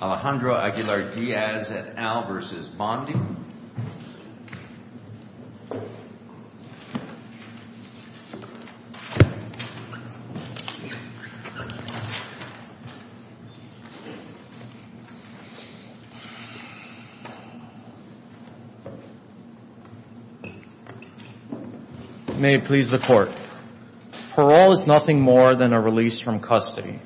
Alejandro Aguilar Diaz et al v. Bondi May it please the court, parole is nothing more than a release from custody.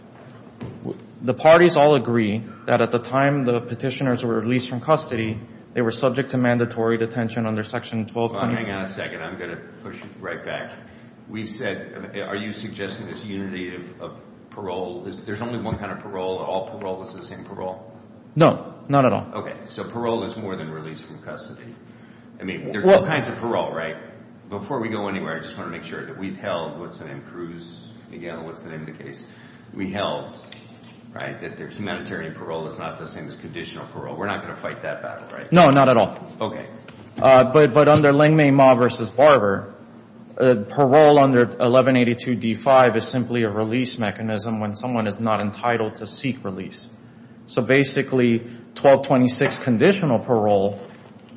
The parties all agree that at the time the petitioners were released from custody, they were subject to mandatory detention under Section 1220. Hang on a second, I'm going to push right back. We've said, are you suggesting this unity of parole? There's only one kind of parole, all parole is the same parole? No, not at all. Okay. So parole is more than release from custody. I mean, there are two kinds of parole, right? Before we go anywhere, I just want to make sure that we've held what's the name, Cruz Miguel, what's the name of the case? We held, right, that humanitarian parole is not the same as conditional parole. We're not going to fight that battle, right? No, not at all. But under Lengmay Ma v. Barber, parole under 1182 D-5 is simply a release mechanism when someone is not entitled to seek release. So basically 1226 conditional parole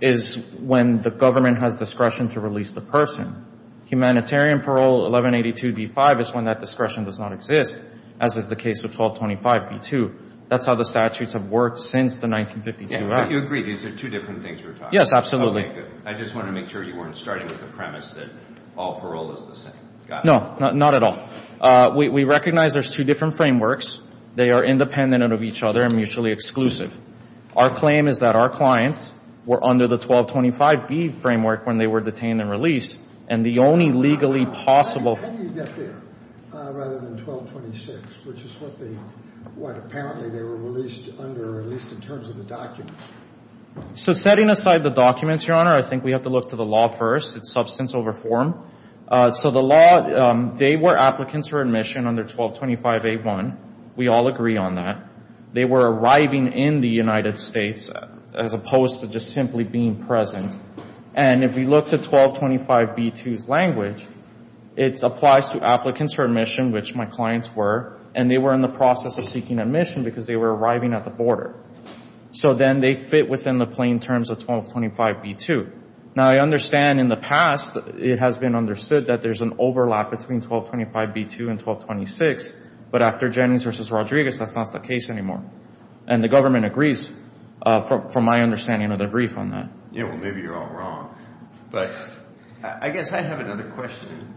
is when the government has discretion to release the person. Humanitarian parole 1182 D-5 is when that discretion does not exist, as is the case of 1225 D-2. That's how the statutes have worked since the 1952 Act. Yeah, but you agree these are two different things we're talking about. Yes, absolutely. Okay, good. I just wanted to make sure you weren't starting with the premise that all parole is the same. Got it. No, not at all. We recognize there's two different frameworks. They are independent of each other and mutually exclusive. Our claim is that our clients were under the 1225 B framework when they were detained and released. And the only legally possible— How do you get there rather than 1226, which is what apparently they were released under, at least in terms of the documents? So setting aside the documents, Your Honor, I think we have to look to the law first. It's substantial reform. So the law, they were applicants for admission under 1225 A-1. We all agree on that. They were arriving in the United States as opposed to just simply being present. And if we look to 1225 B-2's language, it applies to applicants for admission, which my clients were, and they were in the process of seeking admission because they were arriving at the border. So then they fit within the plain terms of 1225 B-2. Now, I understand in the past it has been understood that there's an overlap between 1225 B-2 and 1226, but after Jennings v. Rodriguez, that's not the case anymore. And the government agrees from my understanding of their brief on that. Yeah, well, maybe you're all wrong. But I guess I have another question.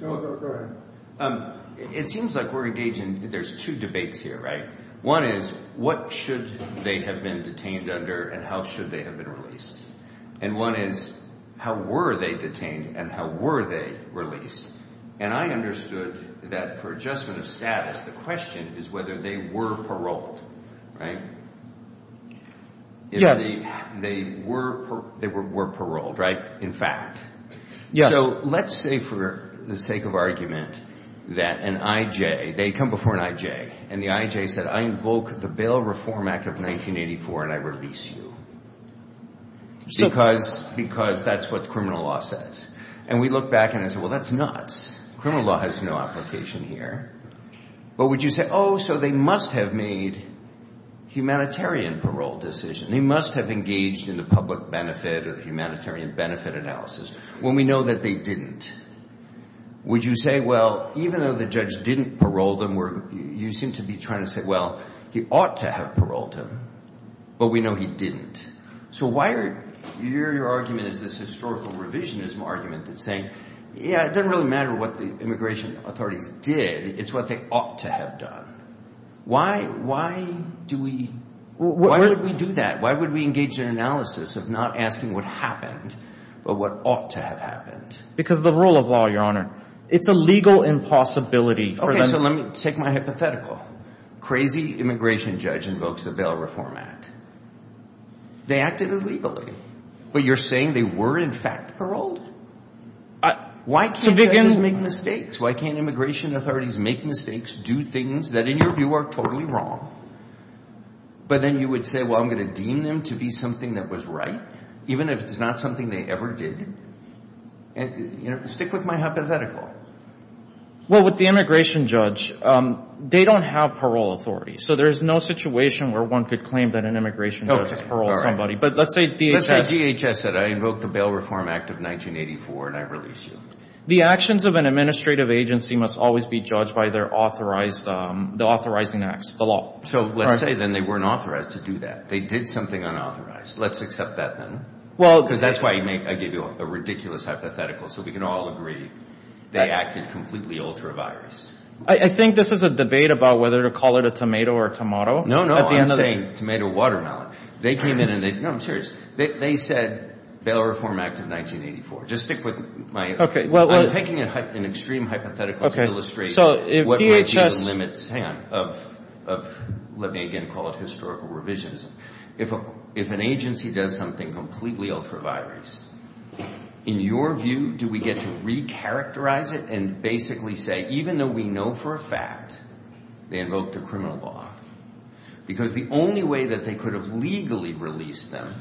Go ahead. It seems like we're engaging—there's two debates here, right? One is what should they have been detained under and how should they have been released? And one is how were they detained and how were they released? And I understood that for adjustment of status, the question is whether they were paroled, right? Yes. They were paroled, right, in fact. Yes. So let's say for the sake of argument that an I.J. They come before an I.J. And the I.J. said, I invoke the Bail Reform Act of 1984 and I release you because that's what criminal law says. And we look back and I say, well, that's nuts. Criminal law has no application here. But would you say, oh, so they must have made humanitarian parole decisions. They must have engaged in the public benefit or the humanitarian benefit analysis. Well, we know that they didn't. Would you say, well, even though the judge didn't parole them, you seem to be trying to say, well, he ought to have paroled him. But we know he didn't. So why are your argument is this historical revisionism argument that's saying, yeah, it doesn't really matter what the immigration authorities did. It's what they ought to have done. Why, why do we, why would we do that? Why would we engage in analysis of not asking what happened, but what ought to have happened? Because of the rule of law, Your Honor. It's a legal impossibility. Okay, so let me take my hypothetical. Crazy immigration judge invokes the Bail Reform Act. They acted illegally. But you're saying they were, in fact, paroled? Why can't judges make mistakes? Why can't immigration authorities make mistakes, do things that, in your view, are totally wrong? But then you would say, well, I'm going to deem them to be something that was right, even if it's not something they ever did? Stick with my hypothetical. Well, with the immigration judge, they don't have parole authority. So there's no situation where one could claim that an immigration judge has paroled somebody. But let's say DHS. Let's say DHS said, I invoke the Bail Reform Act of 1984, and I release you. The actions of an administrative agency must always be judged by their authorized, the authorizing acts, the law. So let's say, then, they weren't authorized to do that. They did something unauthorized. Let's accept that, then. Because that's why I gave you a ridiculous hypothetical, so we can all agree they acted completely ultra-virus. I think this is a debate about whether to call it a tomato or tomahto. No, no, I'm saying tomato watermelon. They came in and they, no, I'm serious. They said Bail Reform Act of 1984. Just stick with my, I'm taking an extreme hypothetical to illustrate what might be the limits, hang on, of, let me again call it historical revisionism. If an agency does something completely ultra-virus, in your view, do we get to recharacterize it and basically say, even though we know for a fact they invoked a criminal law, because the only way that they could have legally released them,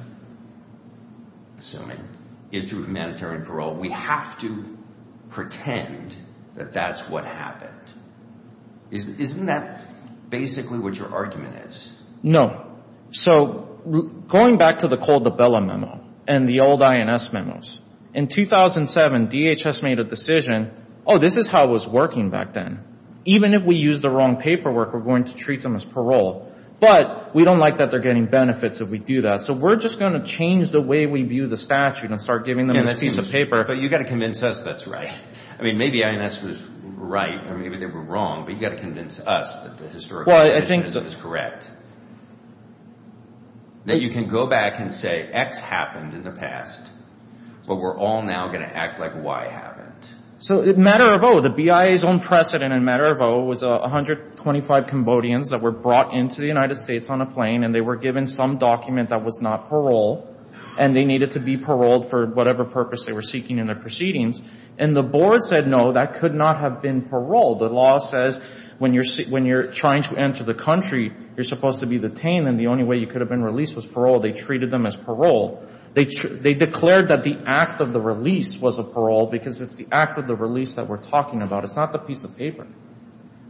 assuming, is through humanitarian parole. We have to pretend that that's what happened. Isn't that basically what your argument is? No. So, going back to the Cole de Bella memo and the old INS memos, in 2007, DHS made a decision, oh, this is how it was working back then. Even if we use the wrong paperwork, we're going to treat them as parole. But we don't like that they're getting benefits if we do that. So we're just going to change the way we view the statute and start giving them this piece of paper. But you've got to convince us that's right. I mean, maybe INS was right or maybe they were wrong, but you've got to convince us that the historical revisionism is correct. That you can go back and say X happened in the past, but we're all now going to act like Y happened. So, in Matter of O, the BIA's own precedent in Matter of O was 125 Cambodians that were brought into the United States on a plane and they were given some document that was not parole, and they needed to be paroled for whatever purpose they were seeking in their proceedings. And the board said, no, that could not have been parole. The law says when you're trying to enter the country, you're supposed to be detained, and the only way you could have been released was parole. They treated them as parole. They declared that the act of the release was a parole because it's the act of the release that we're talking about. It's not the piece of paper.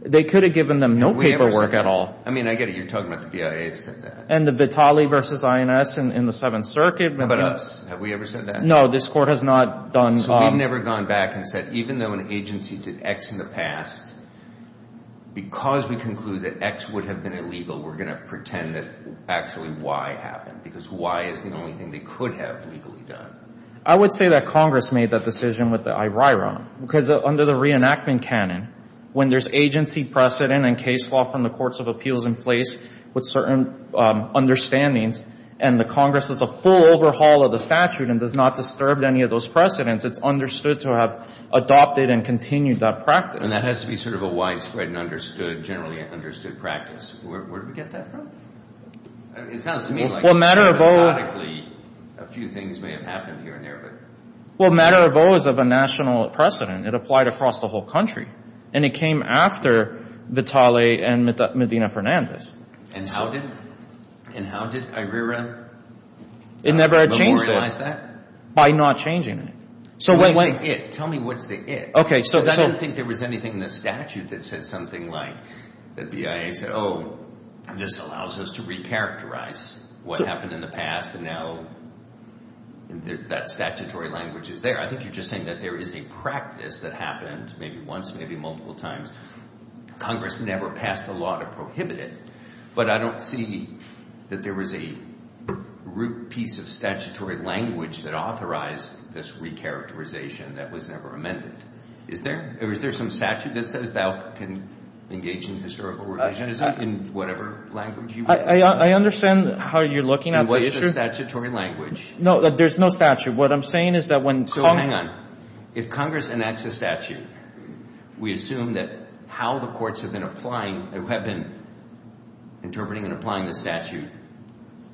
They could have given them no paperwork at all. I mean, I get it. You're talking about the BIA that said that. And the Vitale v. INS in the Seventh Circuit. What about us? Have we ever said that? No, this Court has not done. We've never gone back and said, even though an agency did X in the past, because we conclude that X would have been illegal, we're going to pretend that actually Y happened, because Y is the only thing they could have legally done. I would say that Congress made that decision with the IRIRA, because under the reenactment canon, when there's agency precedent and case law from the courts of appeals in place with certain understandings and the Congress does a full overhaul of the statute and does not disturb any of those precedents, it's understood to have adopted and continued that practice. And that has to be sort of a widespread and understood, generally understood practice. Where did we get that from? It sounds to me like, hypothetically, a few things may have happened here and there. Well, matter of O is of a national precedent. It applied across the whole country. And it came after Vitale and Medina Fernandez. And how did IRIRA memorialize that? It never changed it by not changing it. Tell me what's the it. I don't think there was anything in the statute that said something like the BIA said, oh, this allows us to recharacterize what happened in the past and now that statutory language is there. I think you're just saying that there is a practice that happened maybe once, maybe multiple times. Congress never passed a law to prohibit it, but I don't see that there was a root piece of statutory language that authorized this recharacterization that was never amended. Is there? Or is there some statute that says thou can engage in historical relations in whatever language you want? I understand how you're looking at the issue. In what is a statutory language. No, there's no statute. What I'm saying is that when Congress. So hang on. If Congress enacts a statute, we assume that how the courts have been applying, have been interpreting and applying the statute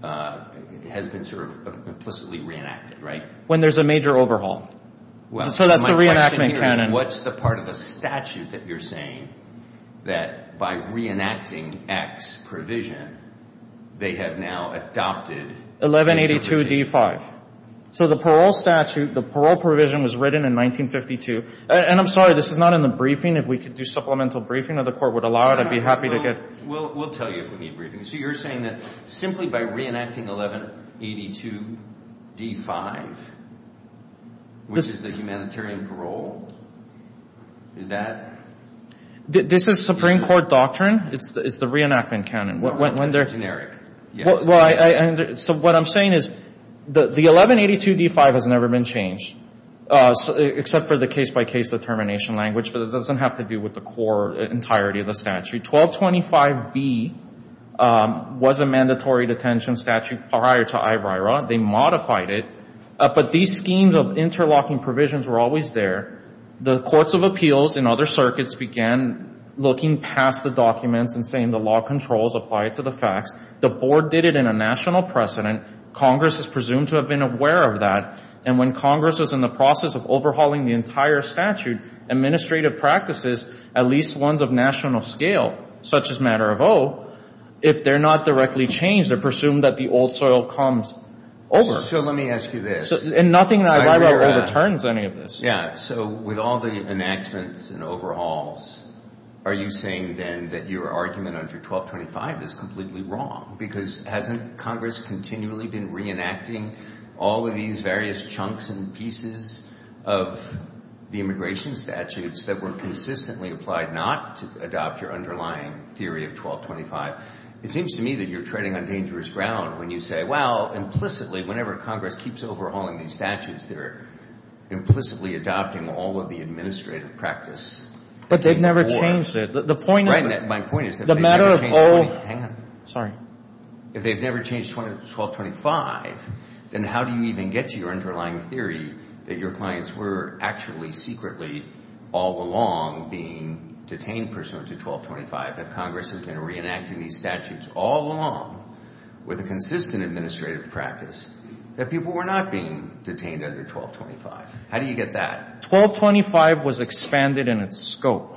has been sort of implicitly reenacted, right? When there's a major overhaul. So that's the reenactment canon. What's the part of the statute that you're saying that by reenacting X provision, they have now adopted. 1182 D5. So the parole statute, the parole provision was written in 1952. And I'm sorry, this is not in the briefing. If we could do supplemental briefing or the court would allow it, I'd be happy to get. We'll tell you if we need briefing. So you're saying that simply by reenacting 1182 D5, which is the humanitarian parole, that. This is Supreme Court doctrine. It's the reenactment canon. It's generic. So what I'm saying is the 1182 D5 has never been changed, except for the case-by-case determination language. But it doesn't have to do with the core entirety of the statute. 1225B was a mandatory detention statute prior to IBRIRA. They modified it. But these schemes of interlocking provisions were always there. The courts of appeals and other circuits began looking past the documents and saying the law controls apply to the facts. The board did it in a national precedent. Congress is presumed to have been aware of that. And when Congress is in the process of overhauling the entire statute, administrative practices, at least ones of national scale, such as matter of oath, if they're not directly changed, they're presumed that the old soil comes over. So let me ask you this. And nothing in IBRIRA overturns any of this. Yeah, so with all the enactments and overhauls, are you saying then that your argument under 1225 is completely wrong? Because hasn't Congress continually been reenacting all of these various chunks and pieces of the immigration statutes that were consistently applied not to adopt your underlying theory of 1225? It seems to me that you're treading on dangerous ground when you say, well, implicitly, whenever Congress keeps overhauling these statutes, they're implicitly adopting all of the administrative practice. But they've never changed it. Right. My point is that if they've never changed 1225, then how do you even get to your underlying theory that your clients were actually secretly all along being detained pursuant to 1225, that Congress has been reenacting these statutes all along with a consistent administrative practice, that people were not being detained under 1225? How do you get that? 1225 was expanded in its scope.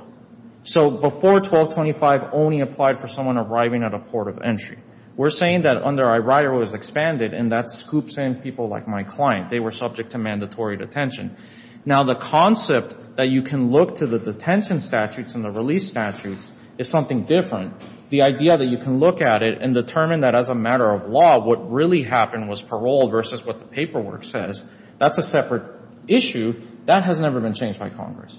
So before 1225 only applied for someone arriving at a port of entry. We're saying that under IBRIRA it was expanded, and that scoops in people like my client. They were subject to mandatory detention. Now, the concept that you can look to the detention statutes and the release statutes is something different. The idea that you can look at it and determine that as a matter of law, what really happened was parole versus what the paperwork says, that's a separate issue. That has never been changed by Congress.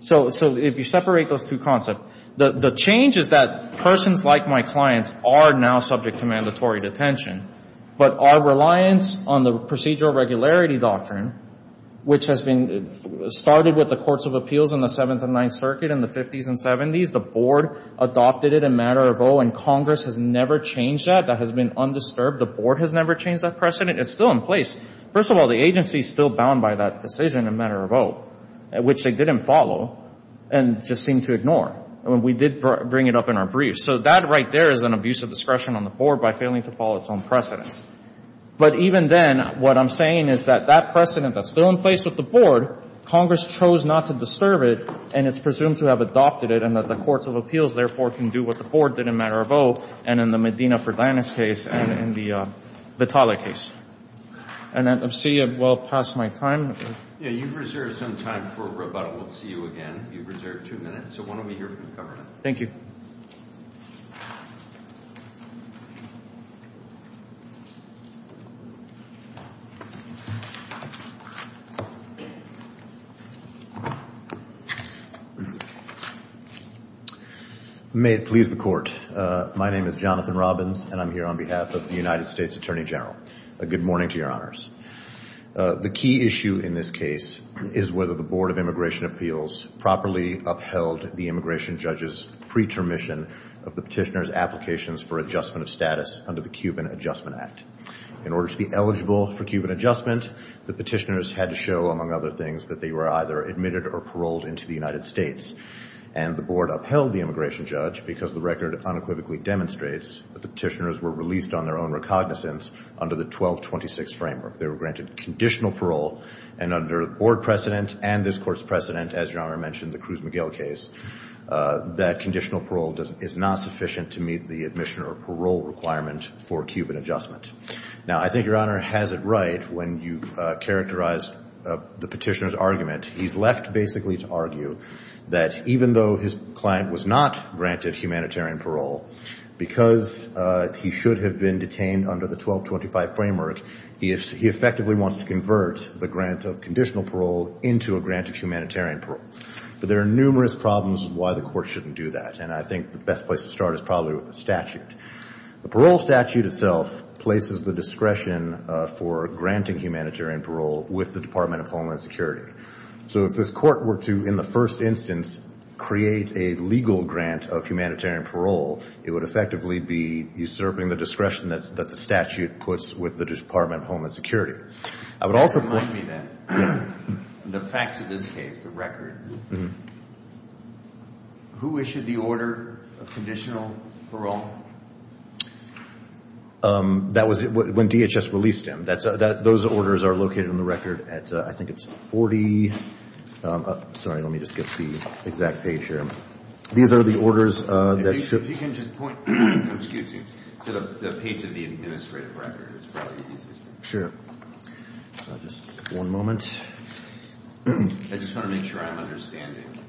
So if you separate those two concepts, the change is that persons like my clients are now subject to mandatory detention, but our reliance on the procedural regularity doctrine, which has been started with the courts of appeals in the Seventh and Ninth Circuit in the 50s and 70s, the board adopted it a matter of oh, and Congress has never changed that. That has been undisturbed. The board has never changed that precedent. It's still in place. First of all, the agency is still bound by that decision a matter of oh, which they didn't follow and just seemed to ignore. We did bring it up in our brief. So that right there is an abuse of discretion on the board by failing to follow its own precedent. But even then, what I'm saying is that that precedent that's still in place with the board, Congress chose not to disturb it and it's presumed to have adopted it and that the courts of appeals, therefore, can do what the board did a matter of oh, and in the Medina-Ferdinand case and in the Vitale case. And I see I've well past my time. Yeah, you've reserved some time for rebuttal. We'll see you again. You've reserved two minutes, so why don't we hear from the government. Thank you. May it please the Court. My name is Jonathan Robbins, and I'm here on behalf of the United States Attorney General. Good morning to your honors. The key issue in this case is whether the Board of Immigration Appeals properly upheld the immigration judge's pretermission of the petitioner's applications for adjustment of status under the Cuban Adjustment Act. In order to be eligible for Cuban adjustment, the petitioners had to show, among other things, that they were either admitted or paroled into the United States. And the board upheld the immigration judge because the record unequivocally demonstrates that the petitioners were released on their own recognizance under the 1226 framework. They were granted conditional parole, and under board precedent and this court's precedent, as your honor mentioned, the Cruz Miguel case, that conditional parole is not sufficient to meet the admission or parole requirement for Cuban adjustment. Now, I think your honor has it right when you've characterized the petitioner's argument. He's left basically to argue that even though his client was not granted humanitarian parole, because he should have been detained under the 1225 framework, he effectively wants to convert the grant of conditional parole into a grant of humanitarian parole. But there are numerous problems why the court shouldn't do that, and I think the best place to start is probably with the statute. The parole statute itself places the discretion for granting humanitarian parole with the Department of Homeland Security. So if this court were to, in the first instance, create a legal grant of humanitarian parole, it would effectively be usurping the discretion that the statute puts with the Department of Homeland Security. That reminds me, then, the facts of this case, the record. Who issued the order of conditional parole? That was when DHS released him. Those orders are located in the record at, I think it's 40. Sorry, let me just get the exact page here. These are the orders that should be. If you can just point to the page of the administrative record, it's probably easiest. Sure. Just one moment. I just want to make sure I'm understanding.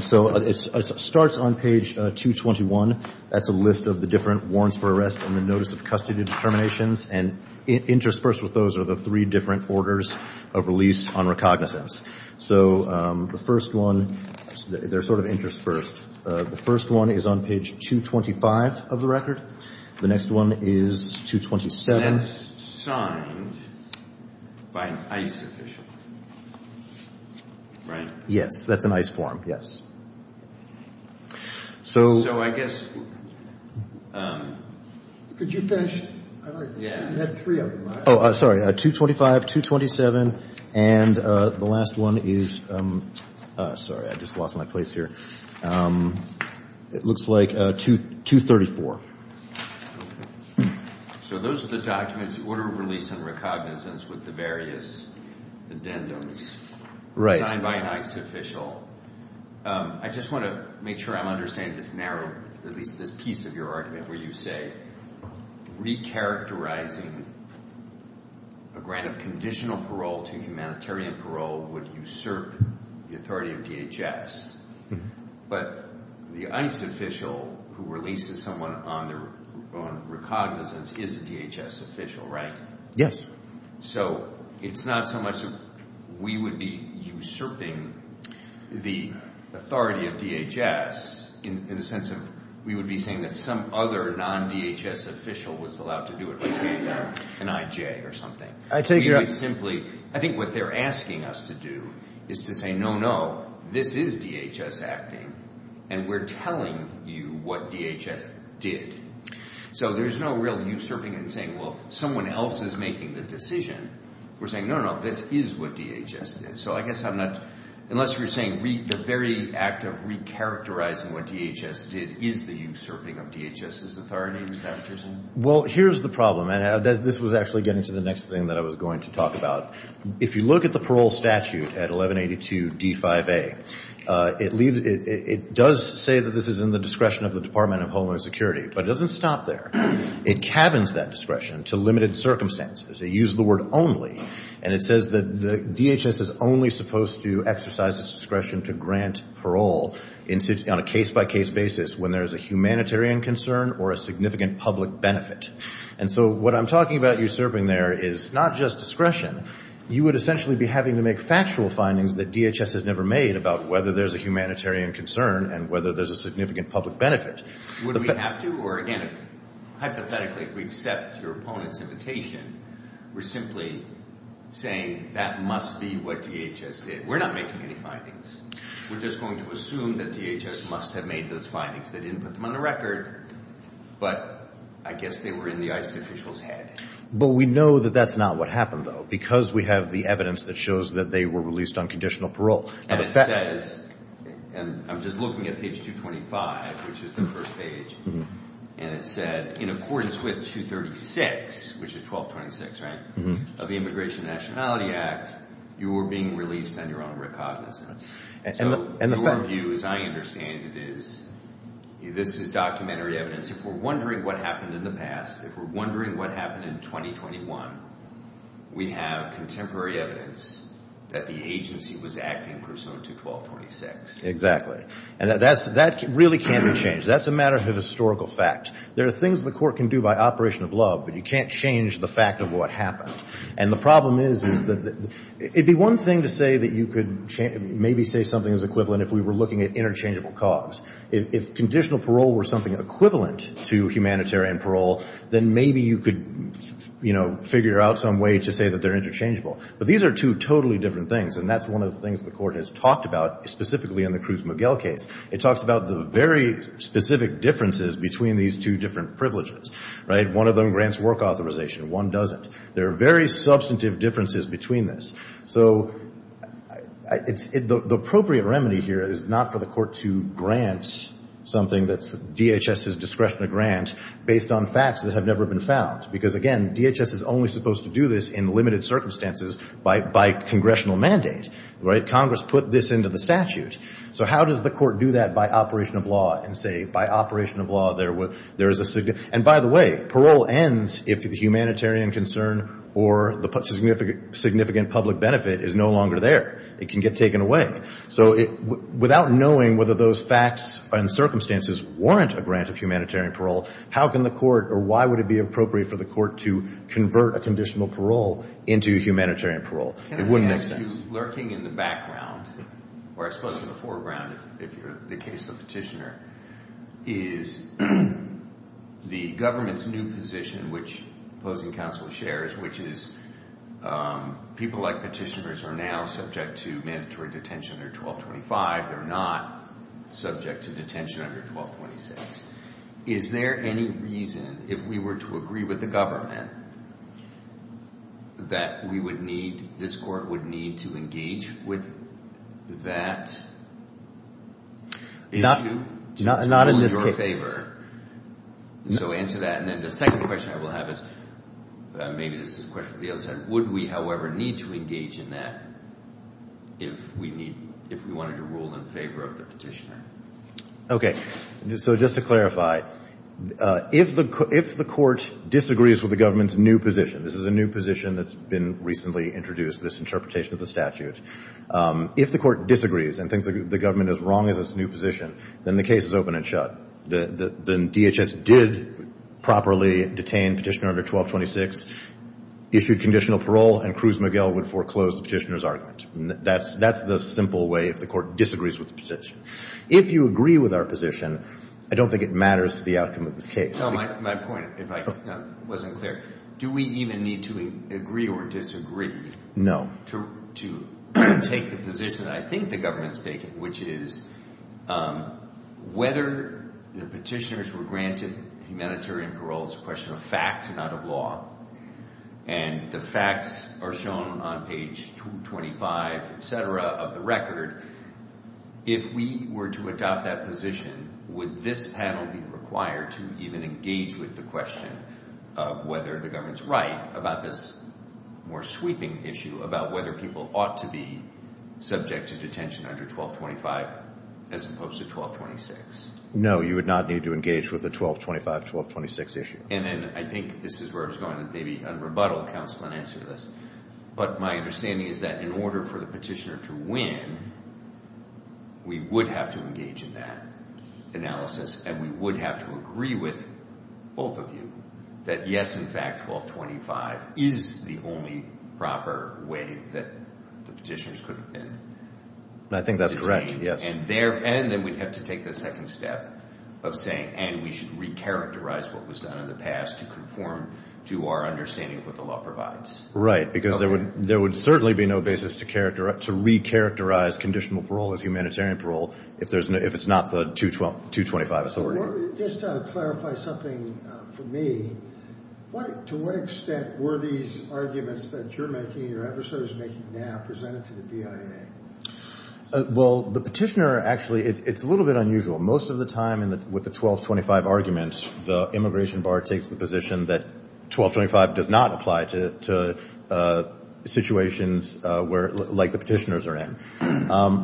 So it starts on page 221. That's a list of the different warrants for arrest and the notice of custody determinations, and interspersed with those are the three different orders of release on recognizance. So the first one, they're sort of interspersed. The first one is on page 225 of the record. The next one is 227. That's signed by an ICE official, right? Yes. That's an ICE form, yes. So I guess. Could you finish? I like that. You had three of them. Oh, sorry. 225, 227, and the last one is. Sorry, I just lost my place here. It looks like 234. So those are the documents, order of release and recognizance with the various addendums. Right. Signed by an ICE official. I just want to make sure I'm understanding this narrow, at least this piece of your argument, where you say recharacterizing a grant of conditional parole to humanitarian parole would usurp the authority of DHS. But the ICE official who releases someone on recognizance is a DHS official, right? Yes. So it's not so much that we would be usurping the authority of DHS in the sense of we would be saying that some other non-DHS official was allowed to do it, like say an IJ or something. We would simply. I think what they're asking us to do is to say, no, no, this is DHS acting, and we're telling you what DHS did. So there's no real usurping and saying, well, someone else is making the decision. We're saying, no, no, this is what DHS did. So I guess I'm not, unless you're saying the very act of recharacterizing what DHS did is the usurping of DHS's authority. Is that what you're saying? Well, here's the problem, and this was actually getting to the next thing that I was going to talk about. If you look at the parole statute at 1182 D-5A, it does say that this is in the discretion of the Department of Homeland Security, but it doesn't stop there. It cabins that discretion to limited circumstances. They use the word only, and it says that DHS is only supposed to exercise its discretion to grant parole on a case-by-case basis when there is a humanitarian concern or a significant public benefit. And so what I'm talking about usurping there is not just discretion. You would essentially be having to make factual findings that DHS has never made about whether there's a humanitarian concern and whether there's a significant public benefit. Would we have to, or again, hypothetically, if we accept your opponent's invitation, we're simply saying that must be what DHS did. We're not making any findings. We're just going to assume that DHS must have made those findings. They didn't put them on the record, but I guess they were in the ICE official's head. But we know that that's not what happened, though, because we have the evidence that shows that they were released on conditional parole. And it says, and I'm just looking at page 225, which is the first page, and it said, in accordance with 236, which is 1226, right, of the Immigration and Nationality Act, you were being released on your own recognizance. So your view, as I understand it, is this is documentary evidence. If we're wondering what happened in the past, if we're wondering what happened in 2021, we have contemporary evidence that the agency was acting pursuant to 1226. Exactly. And that really can't be changed. That's a matter of historical fact. There are things the court can do by operation of love, but you can't change the fact of what happened. And the problem is that it would be one thing to say that you could maybe say something is equivalent if we were looking at interchangeable cause. If conditional parole were something equivalent to humanitarian parole, then maybe you could, you know, figure out some way to say that they're interchangeable. But these are two totally different things, and that's one of the things the court has talked about specifically in the Cruz-Miguel case. It talks about the very specific differences between these two different privileges, right? One of them grants work authorization. One doesn't. There are very substantive differences between this. So the appropriate remedy here is not for the court to grant something that's DHS's discretion to grant based on facts that have never been found. Because, again, DHS is only supposed to do this in limited circumstances by congressional mandate, right? Congress put this into the statute. So how does the court do that by operation of law and say by operation of law there is a significant – It can get taken away. So without knowing whether those facts and circumstances warrant a grant of humanitarian parole, how can the court – or why would it be appropriate for the court to convert a conditional parole into humanitarian parole? It wouldn't make sense. The fact is lurking in the background, or I suppose in the foreground if you're the case of the petitioner, is the government's new position which opposing counsel shares, which is people like petitioners are now subject to mandatory detention under 1225. They're not subject to detention under 1226. Is there any reason if we were to agree with the government that we would need – this court would need to engage with that issue? Not in this case. So answer that. And then the second question I will have is – maybe this is a question for the other side. Would we, however, need to engage in that if we wanted to rule in favor of the petitioner? Okay. So just to clarify, if the court disagrees with the government's new position – this is a new position that's been recently introduced, this interpretation of the statute – if the court disagrees and thinks the government is wrong in this new position, then the case is open and shut. Then DHS did properly detain petitioner under 1226, issued conditional parole, and Cruz Miguel would foreclose the petitioner's argument. That's the simple way if the court disagrees with the petition. If you agree with our position, I don't think it matters to the outcome of this case. No, my point, if I wasn't clear, do we even need to agree or disagree to take the position that I think the government is taking, which is whether the petitioners were granted humanitarian parole is a question of fact and not of law. And the facts are shown on page 25, et cetera, of the record. If we were to adopt that position, would this panel be required to even engage with the question of whether the government's right about this more sweeping issue about whether people ought to be subject to detention under 1225 as opposed to 1226? No, you would not need to engage with the 1225-1226 issue. And then I think this is where I was going to maybe un-rebuttal counsel and answer this, but my understanding is that in order for the petitioner to win, we would have to engage in that analysis, and we would have to agree with both of you that yes, in fact, 1225 is the only proper way that the petitioners could have been detained. I think that's correct, yes. And then we'd have to take the second step of saying, and we should recharacterize what was done in the past to conform to our understanding of what the law provides. Right, because there would certainly be no basis to recharacterize conditional parole as humanitarian parole if it's not the 225. Just to clarify something for me, to what extent were these arguments that you're making, your adversaries are making now, presented to the BIA? Well, the petitioner actually, it's a little bit unusual. Most of the time with the 1225 argument, the immigration bar takes the position that 1225 does not apply to situations like the petitioners are in.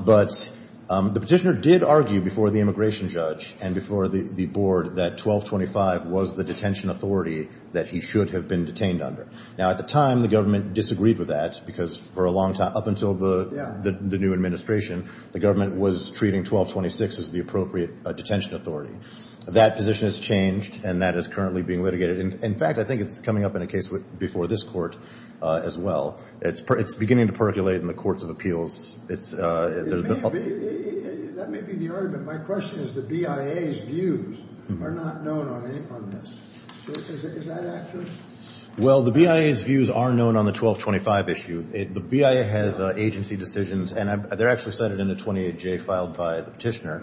But the petitioner did argue before the immigration judge and before the board that 1225 was the detention authority that he should have been detained under. Now, at the time, the government disagreed with that because for a long time, up until the new administration, the government was treating 1226 as the appropriate detention authority. That position has changed, and that is currently being litigated. In fact, I think it's coming up in a case before this court as well. It's beginning to percolate in the courts of appeals. That may be the argument. My question is the BIA's views are not known on this. Is that accurate? Well, the BIA's views are known on the 1225 issue. The BIA has agency decisions, and they're actually cited in the 28J filed by the petitioner.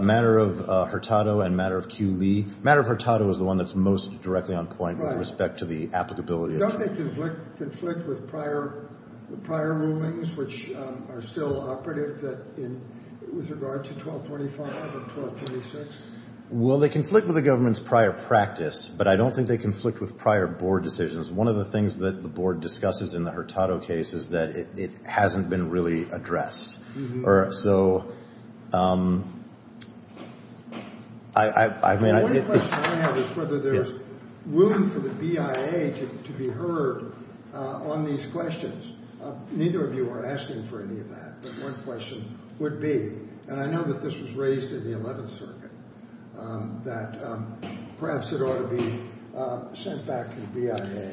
Matter of Hurtado and Matter of Kew-Lee, Matter of Hurtado is the one that's most directly on point with respect to the applicability. Don't they conflict with prior rulings, which are still operative with regard to 1225 and 1226? Well, they conflict with the government's prior practice, but I don't think they conflict with prior board decisions. One of the things that the board discusses in the Hurtado case is that it hasn't been really addressed. So I mean, I think this- The only question I have is whether there's room for the BIA to be heard on these questions. Neither of you are asking for any of that, but one question would be, and I know that this was raised in the 11th Circuit, that perhaps it ought to be sent back to the BIA.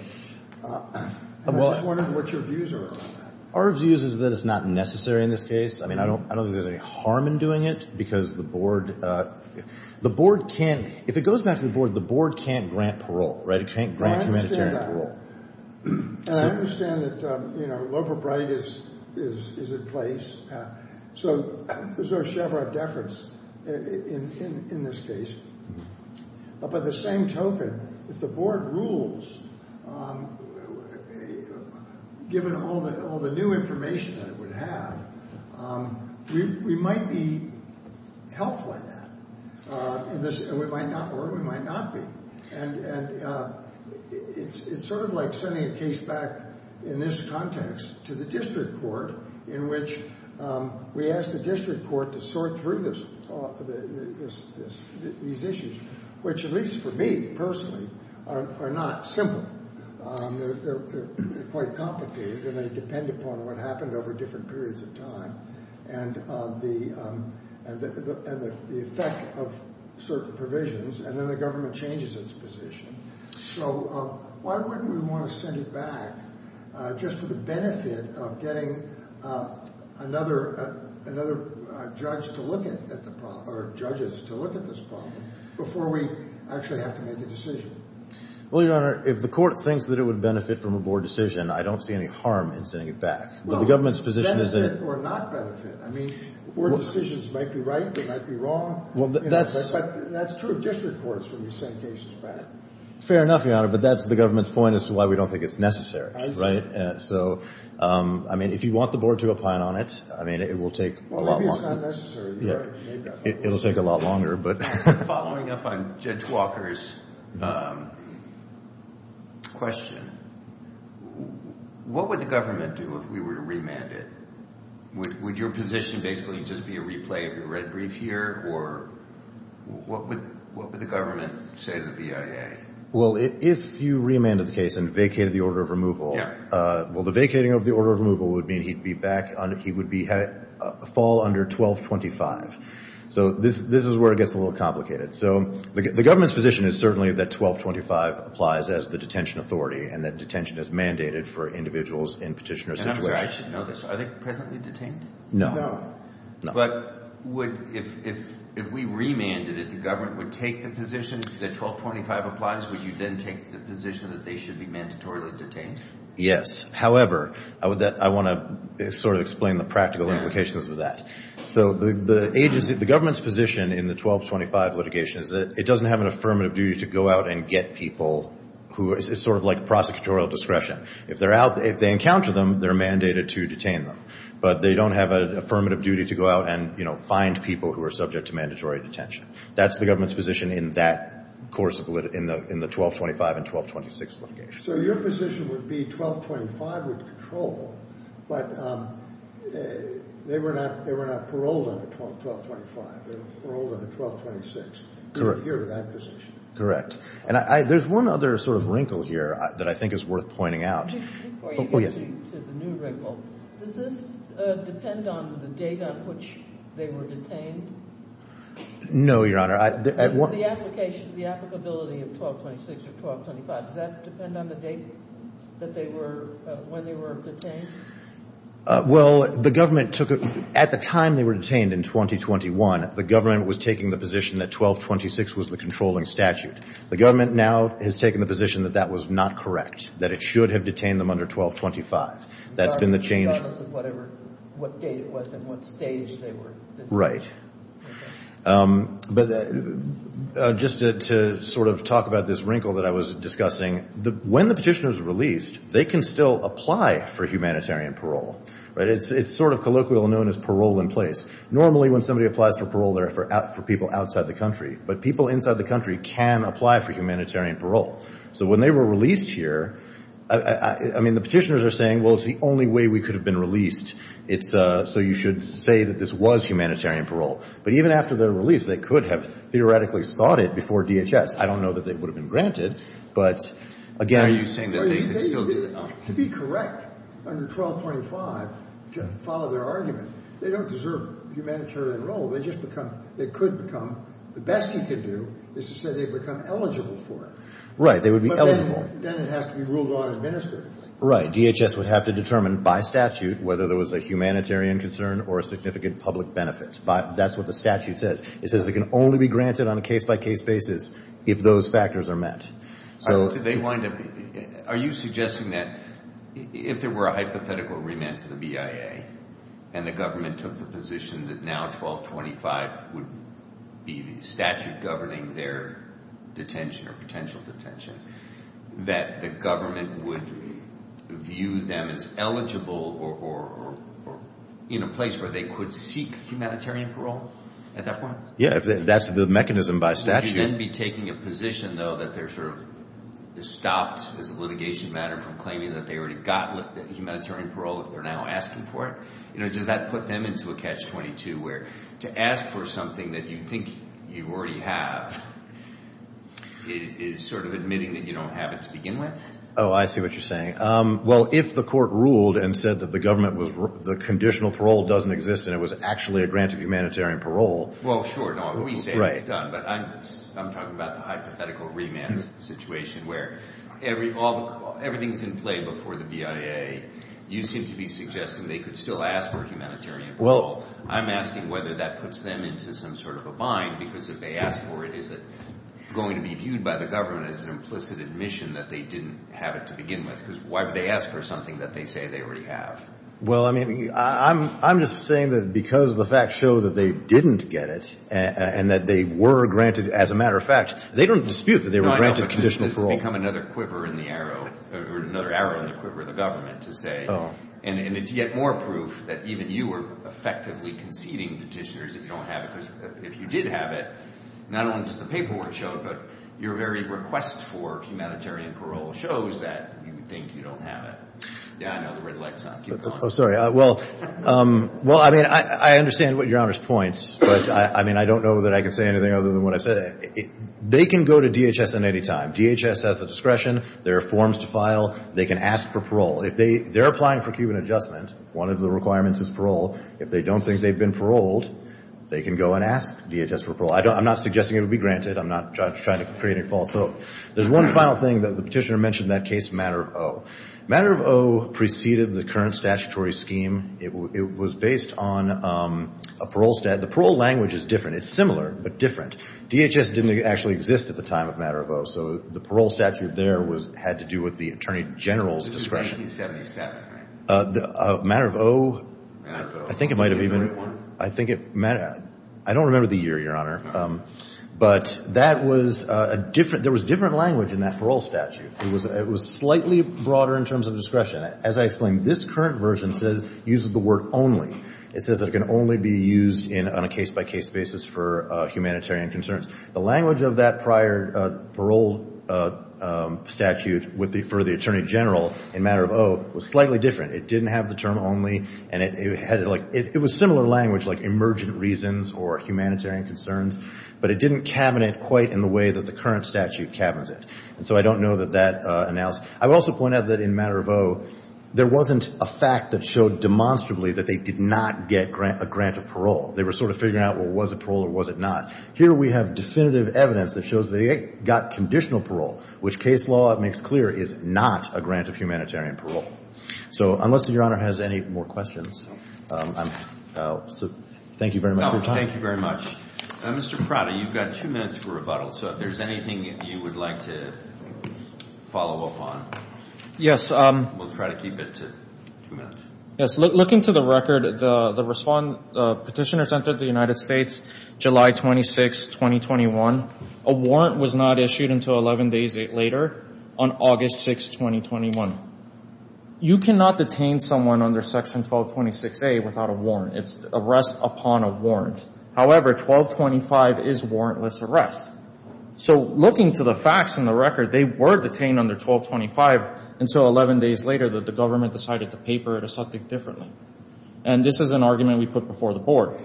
I'm just wondering what your views are on that. Our view is that it's not necessary in this case. I mean, I don't think there's any harm in doing it because the board can't- If it goes back to the board, the board can't grant parole, right? It can't grant humanitarian parole. I understand that. You know, Loeb or Bright is in place. So there's no Chevron deference in this case. But by the same token, if the board rules, given all the new information that it would have, we might be helped by that. Or we might not be. And it's sort of like sending a case back in this context to the district court in which we ask the district court to sort through these issues, which, at least for me personally, are not simple. They're quite complicated, and they depend upon what happened over different periods of time and the effect of certain provisions. And then the government changes its position. So why wouldn't we want to send it back just for the benefit of getting another judge to look at the problem or judges to look at this problem before we actually have to make a decision? Well, Your Honor, if the court thinks that it would benefit from a board decision, I don't see any harm in sending it back. Well, benefit or not benefit. I mean, board decisions might be right. They might be wrong. That's true of district courts when you send cases back. Fair enough, Your Honor. But that's the government's point as to why we don't think it's necessary, right? So, I mean, if you want the board to opine on it, I mean, it will take a lot longer. Well, maybe it's not necessary. It'll take a lot longer. Following up on Judge Walker's question, what would the government do if we were to remand it? Would your position basically just be a replay of your red brief here? Or what would the government say to the BIA? Well, if you remanded the case and vacated the order of removal, well, the vacating of the order of removal would mean he'd fall under 1225. So this is where it gets a little complicated. So the government's position is certainly that 1225 applies as the detention authority and that detention is mandated for individuals in petitioner situations. I'm not sure I should know this. Are they presently detained? No. No. But if we remanded it, the government would take the position that 1225 applies? Would you then take the position that they should be mandatorily detained? Yes. However, I want to sort of explain the practical implications of that. So the government's position in the 1225 litigation is that it doesn't have an affirmative duty to go out and get people. It's sort of like prosecutorial discretion. If they encounter them, they're mandated to detain them. But they don't have an affirmative duty to go out and, you know, find people who are subject to mandatory detention. That's the government's position in that course of the 1225 and 1226 litigation. So your position would be 1225 would control, but they were not paroled under 1225. They were paroled under 1226. Correct. To adhere to that position. Correct. And there's one other sort of wrinkle here that I think is worth pointing out. Before you get to the new wrinkle, does this depend on the date on which they were detained? No, Your Honor. The application, the applicability of 1226 or 1225, does that depend on the date that they were, when they were detained? Well, the government took it at the time they were detained in 2021. The government was taking the position that 1226 was the controlling statute. The government now has taken the position that that was not correct, that it should have detained them under 1225. That's been the change. Regardless of whatever, what date it was and what stage they were detained. Right. But just to sort of talk about this wrinkle that I was discussing, when the petitioner is released, they can still apply for humanitarian parole. Right? It's sort of colloquial known as parole in place. Normally, when somebody applies for parole, they're for people outside the country. But people inside the country can apply for humanitarian parole. So when they were released here, I mean, the petitioners are saying, well, it's the only way we could have been released. It's so you should say that this was humanitarian parole. But even after their release, they could have theoretically sought it before DHS. I don't know that they would have been granted. But, again, are you saying that they could still do it? To be correct, under 1225, to follow their argument, they don't deserve humanitarian parole. They just become they could become the best you could do is to say they become eligible for it. Right. They would be eligible. But then it has to be ruled on administratively. Right. DHS would have to determine by statute whether there was a humanitarian concern or a significant public benefit. That's what the statute says. It says it can only be granted on a case-by-case basis if those factors are met. Are you suggesting that if there were a hypothetical remand to the BIA and the government took the position that now 1225 would be the statute governing their detention or potential detention, that the government would view them as eligible or in a place where they could seek humanitarian parole at that point? Yeah, if that's the mechanism by statute. Would you then be taking a position, though, that they're sort of stopped as a litigation matter from claiming that they already got humanitarian parole if they're now asking for it? You know, does that put them into a catch-22 where to ask for something that you think you already have is sort of admitting that you don't have it to begin with? Oh, I see what you're saying. Well, if the court ruled and said that the government was the conditional parole doesn't exist and it was actually a grant of humanitarian parole. Well, sure. We say it's done, but I'm talking about the hypothetical remand situation where everything's in play before the BIA. You seem to be suggesting they could still ask for humanitarian parole. I'm asking whether that puts them into some sort of a bind because if they ask for it, is it going to be viewed by the government as an implicit admission that they didn't have it to begin with? Because why would they ask for something that they say they already have? Well, I mean, I'm just saying that because the facts show that they didn't get it and that they were granted, as a matter of fact, they don't dispute that they were granted conditional parole. No, I know, but this has become another quiver in the arrow, or another arrow in the quiver of the government to say, and it's yet more proof that even you are effectively conceding petitioners if you don't have it because if you did have it, not only does the paperwork show it, but your very request for humanitarian parole shows that you think you don't have it. Yeah, I know, the red light's on. Keep going. Oh, sorry. Well, I mean, I understand what Your Honor's point, but I mean, I don't know that I can say anything other than what I said. They can go to DHS at any time. DHS has the discretion. There are forms to file. They can ask for parole. If they're applying for Cuban adjustment, one of the requirements is parole. If they don't think they've been paroled, they can go and ask DHS for parole. I'm not suggesting it would be granted. I'm not trying to create a false hope. There's one final thing that the petitioner mentioned in that case, matter of O. Matter of O preceded the current statutory scheme. It was based on a parole statute. The parole language is different. It's similar but different. DHS didn't actually exist at the time of matter of O, so the parole statute there had to do with the attorney general's discretion. This is 1977, right? Matter of O, I think it might have even been. I think it might have. I don't remember the year, Your Honor, but that was a different. There was a different language in that parole statute. It was slightly broader in terms of discretion. As I explained, this current version uses the word only. It says it can only be used on a case-by-case basis for humanitarian concerns. The language of that prior parole statute for the attorney general in matter of O was slightly different. It didn't have the term only. It was similar language like emergent reasons or humanitarian concerns, but it didn't cabinet quite in the way that the current statute cabinets it. So I don't know that that announced. I would also point out that in matter of O, there wasn't a fact that showed demonstrably that they did not get a grant of parole. They were sort of figuring out, well, was it parole or was it not? Here we have definitive evidence that shows they got conditional parole, which case law makes clear is not a grant of humanitarian parole. So unless Your Honor has any more questions, thank you very much for your time. Thank you very much. Mr. Prada, you've got two minutes for rebuttal. So if there's anything you would like to follow up on. Yes. We'll try to keep it to two minutes. Yes. Looking to the record, the petitioners entered the United States July 26, 2021. A warrant was not issued until 11 days later on August 6, 2021. You cannot detain someone under Section 1226A without a warrant. It's arrest upon a warrant. However, 1225 is warrantless arrest. So looking to the facts and the record, they were detained under 1225 until 11 days later that the government decided to paper it as something different. And this is an argument we put before the board.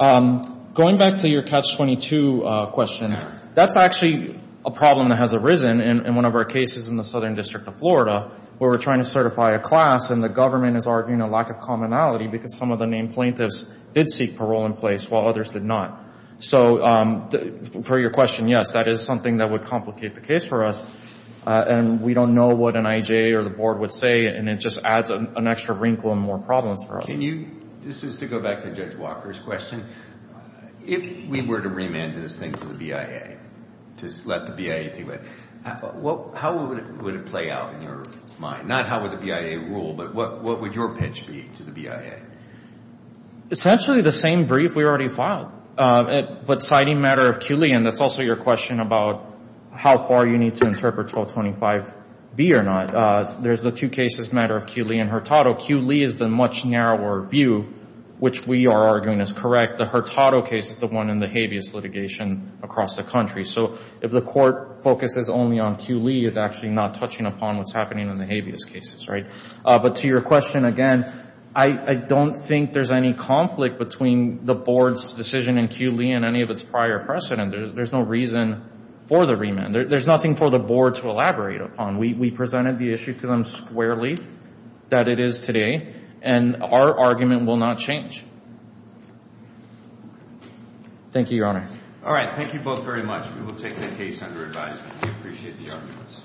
Going back to your Catch-22 question, that's actually a problem that has arisen in one of our cases in the Southern District of Florida where we're trying to certify a class and the government is arguing a lack of commonality because some of the named plaintiffs did seek parole in place while others did not. So for your question, yes, that is something that would complicate the case for us. And we don't know what an IJ or the board would say, and it just adds an extra wrinkle and more problems for us. This is to go back to Judge Walker's question. If we were to remand this thing to the BIA, to let the BIA think about it, how would it play out in your mind? Not how would the BIA rule, but what would your pitch be to the BIA? Essentially the same brief we already filed. But citing matter of Q. Lee, and that's also your question about how far you need to interpret 1225B or not, there's the two cases, matter of Q. Lee and Hurtado. Q. Lee is the much narrower view, which we are arguing is correct. The Hurtado case is the one in the habeas litigation across the country. So if the court focuses only on Q. Lee, it's actually not touching upon what's happening in the habeas cases, right? But to your question again, I don't think there's any conflict between the board's decision in Q. Lee and any of its prior precedent. There's no reason for the remand. There's nothing for the board to elaborate upon. We presented the issue to them squarely, that it is today, and our argument will not change. Thank you, Your Honor. All right. Thank you both very much. We will take the case under review. We appreciate the arguments.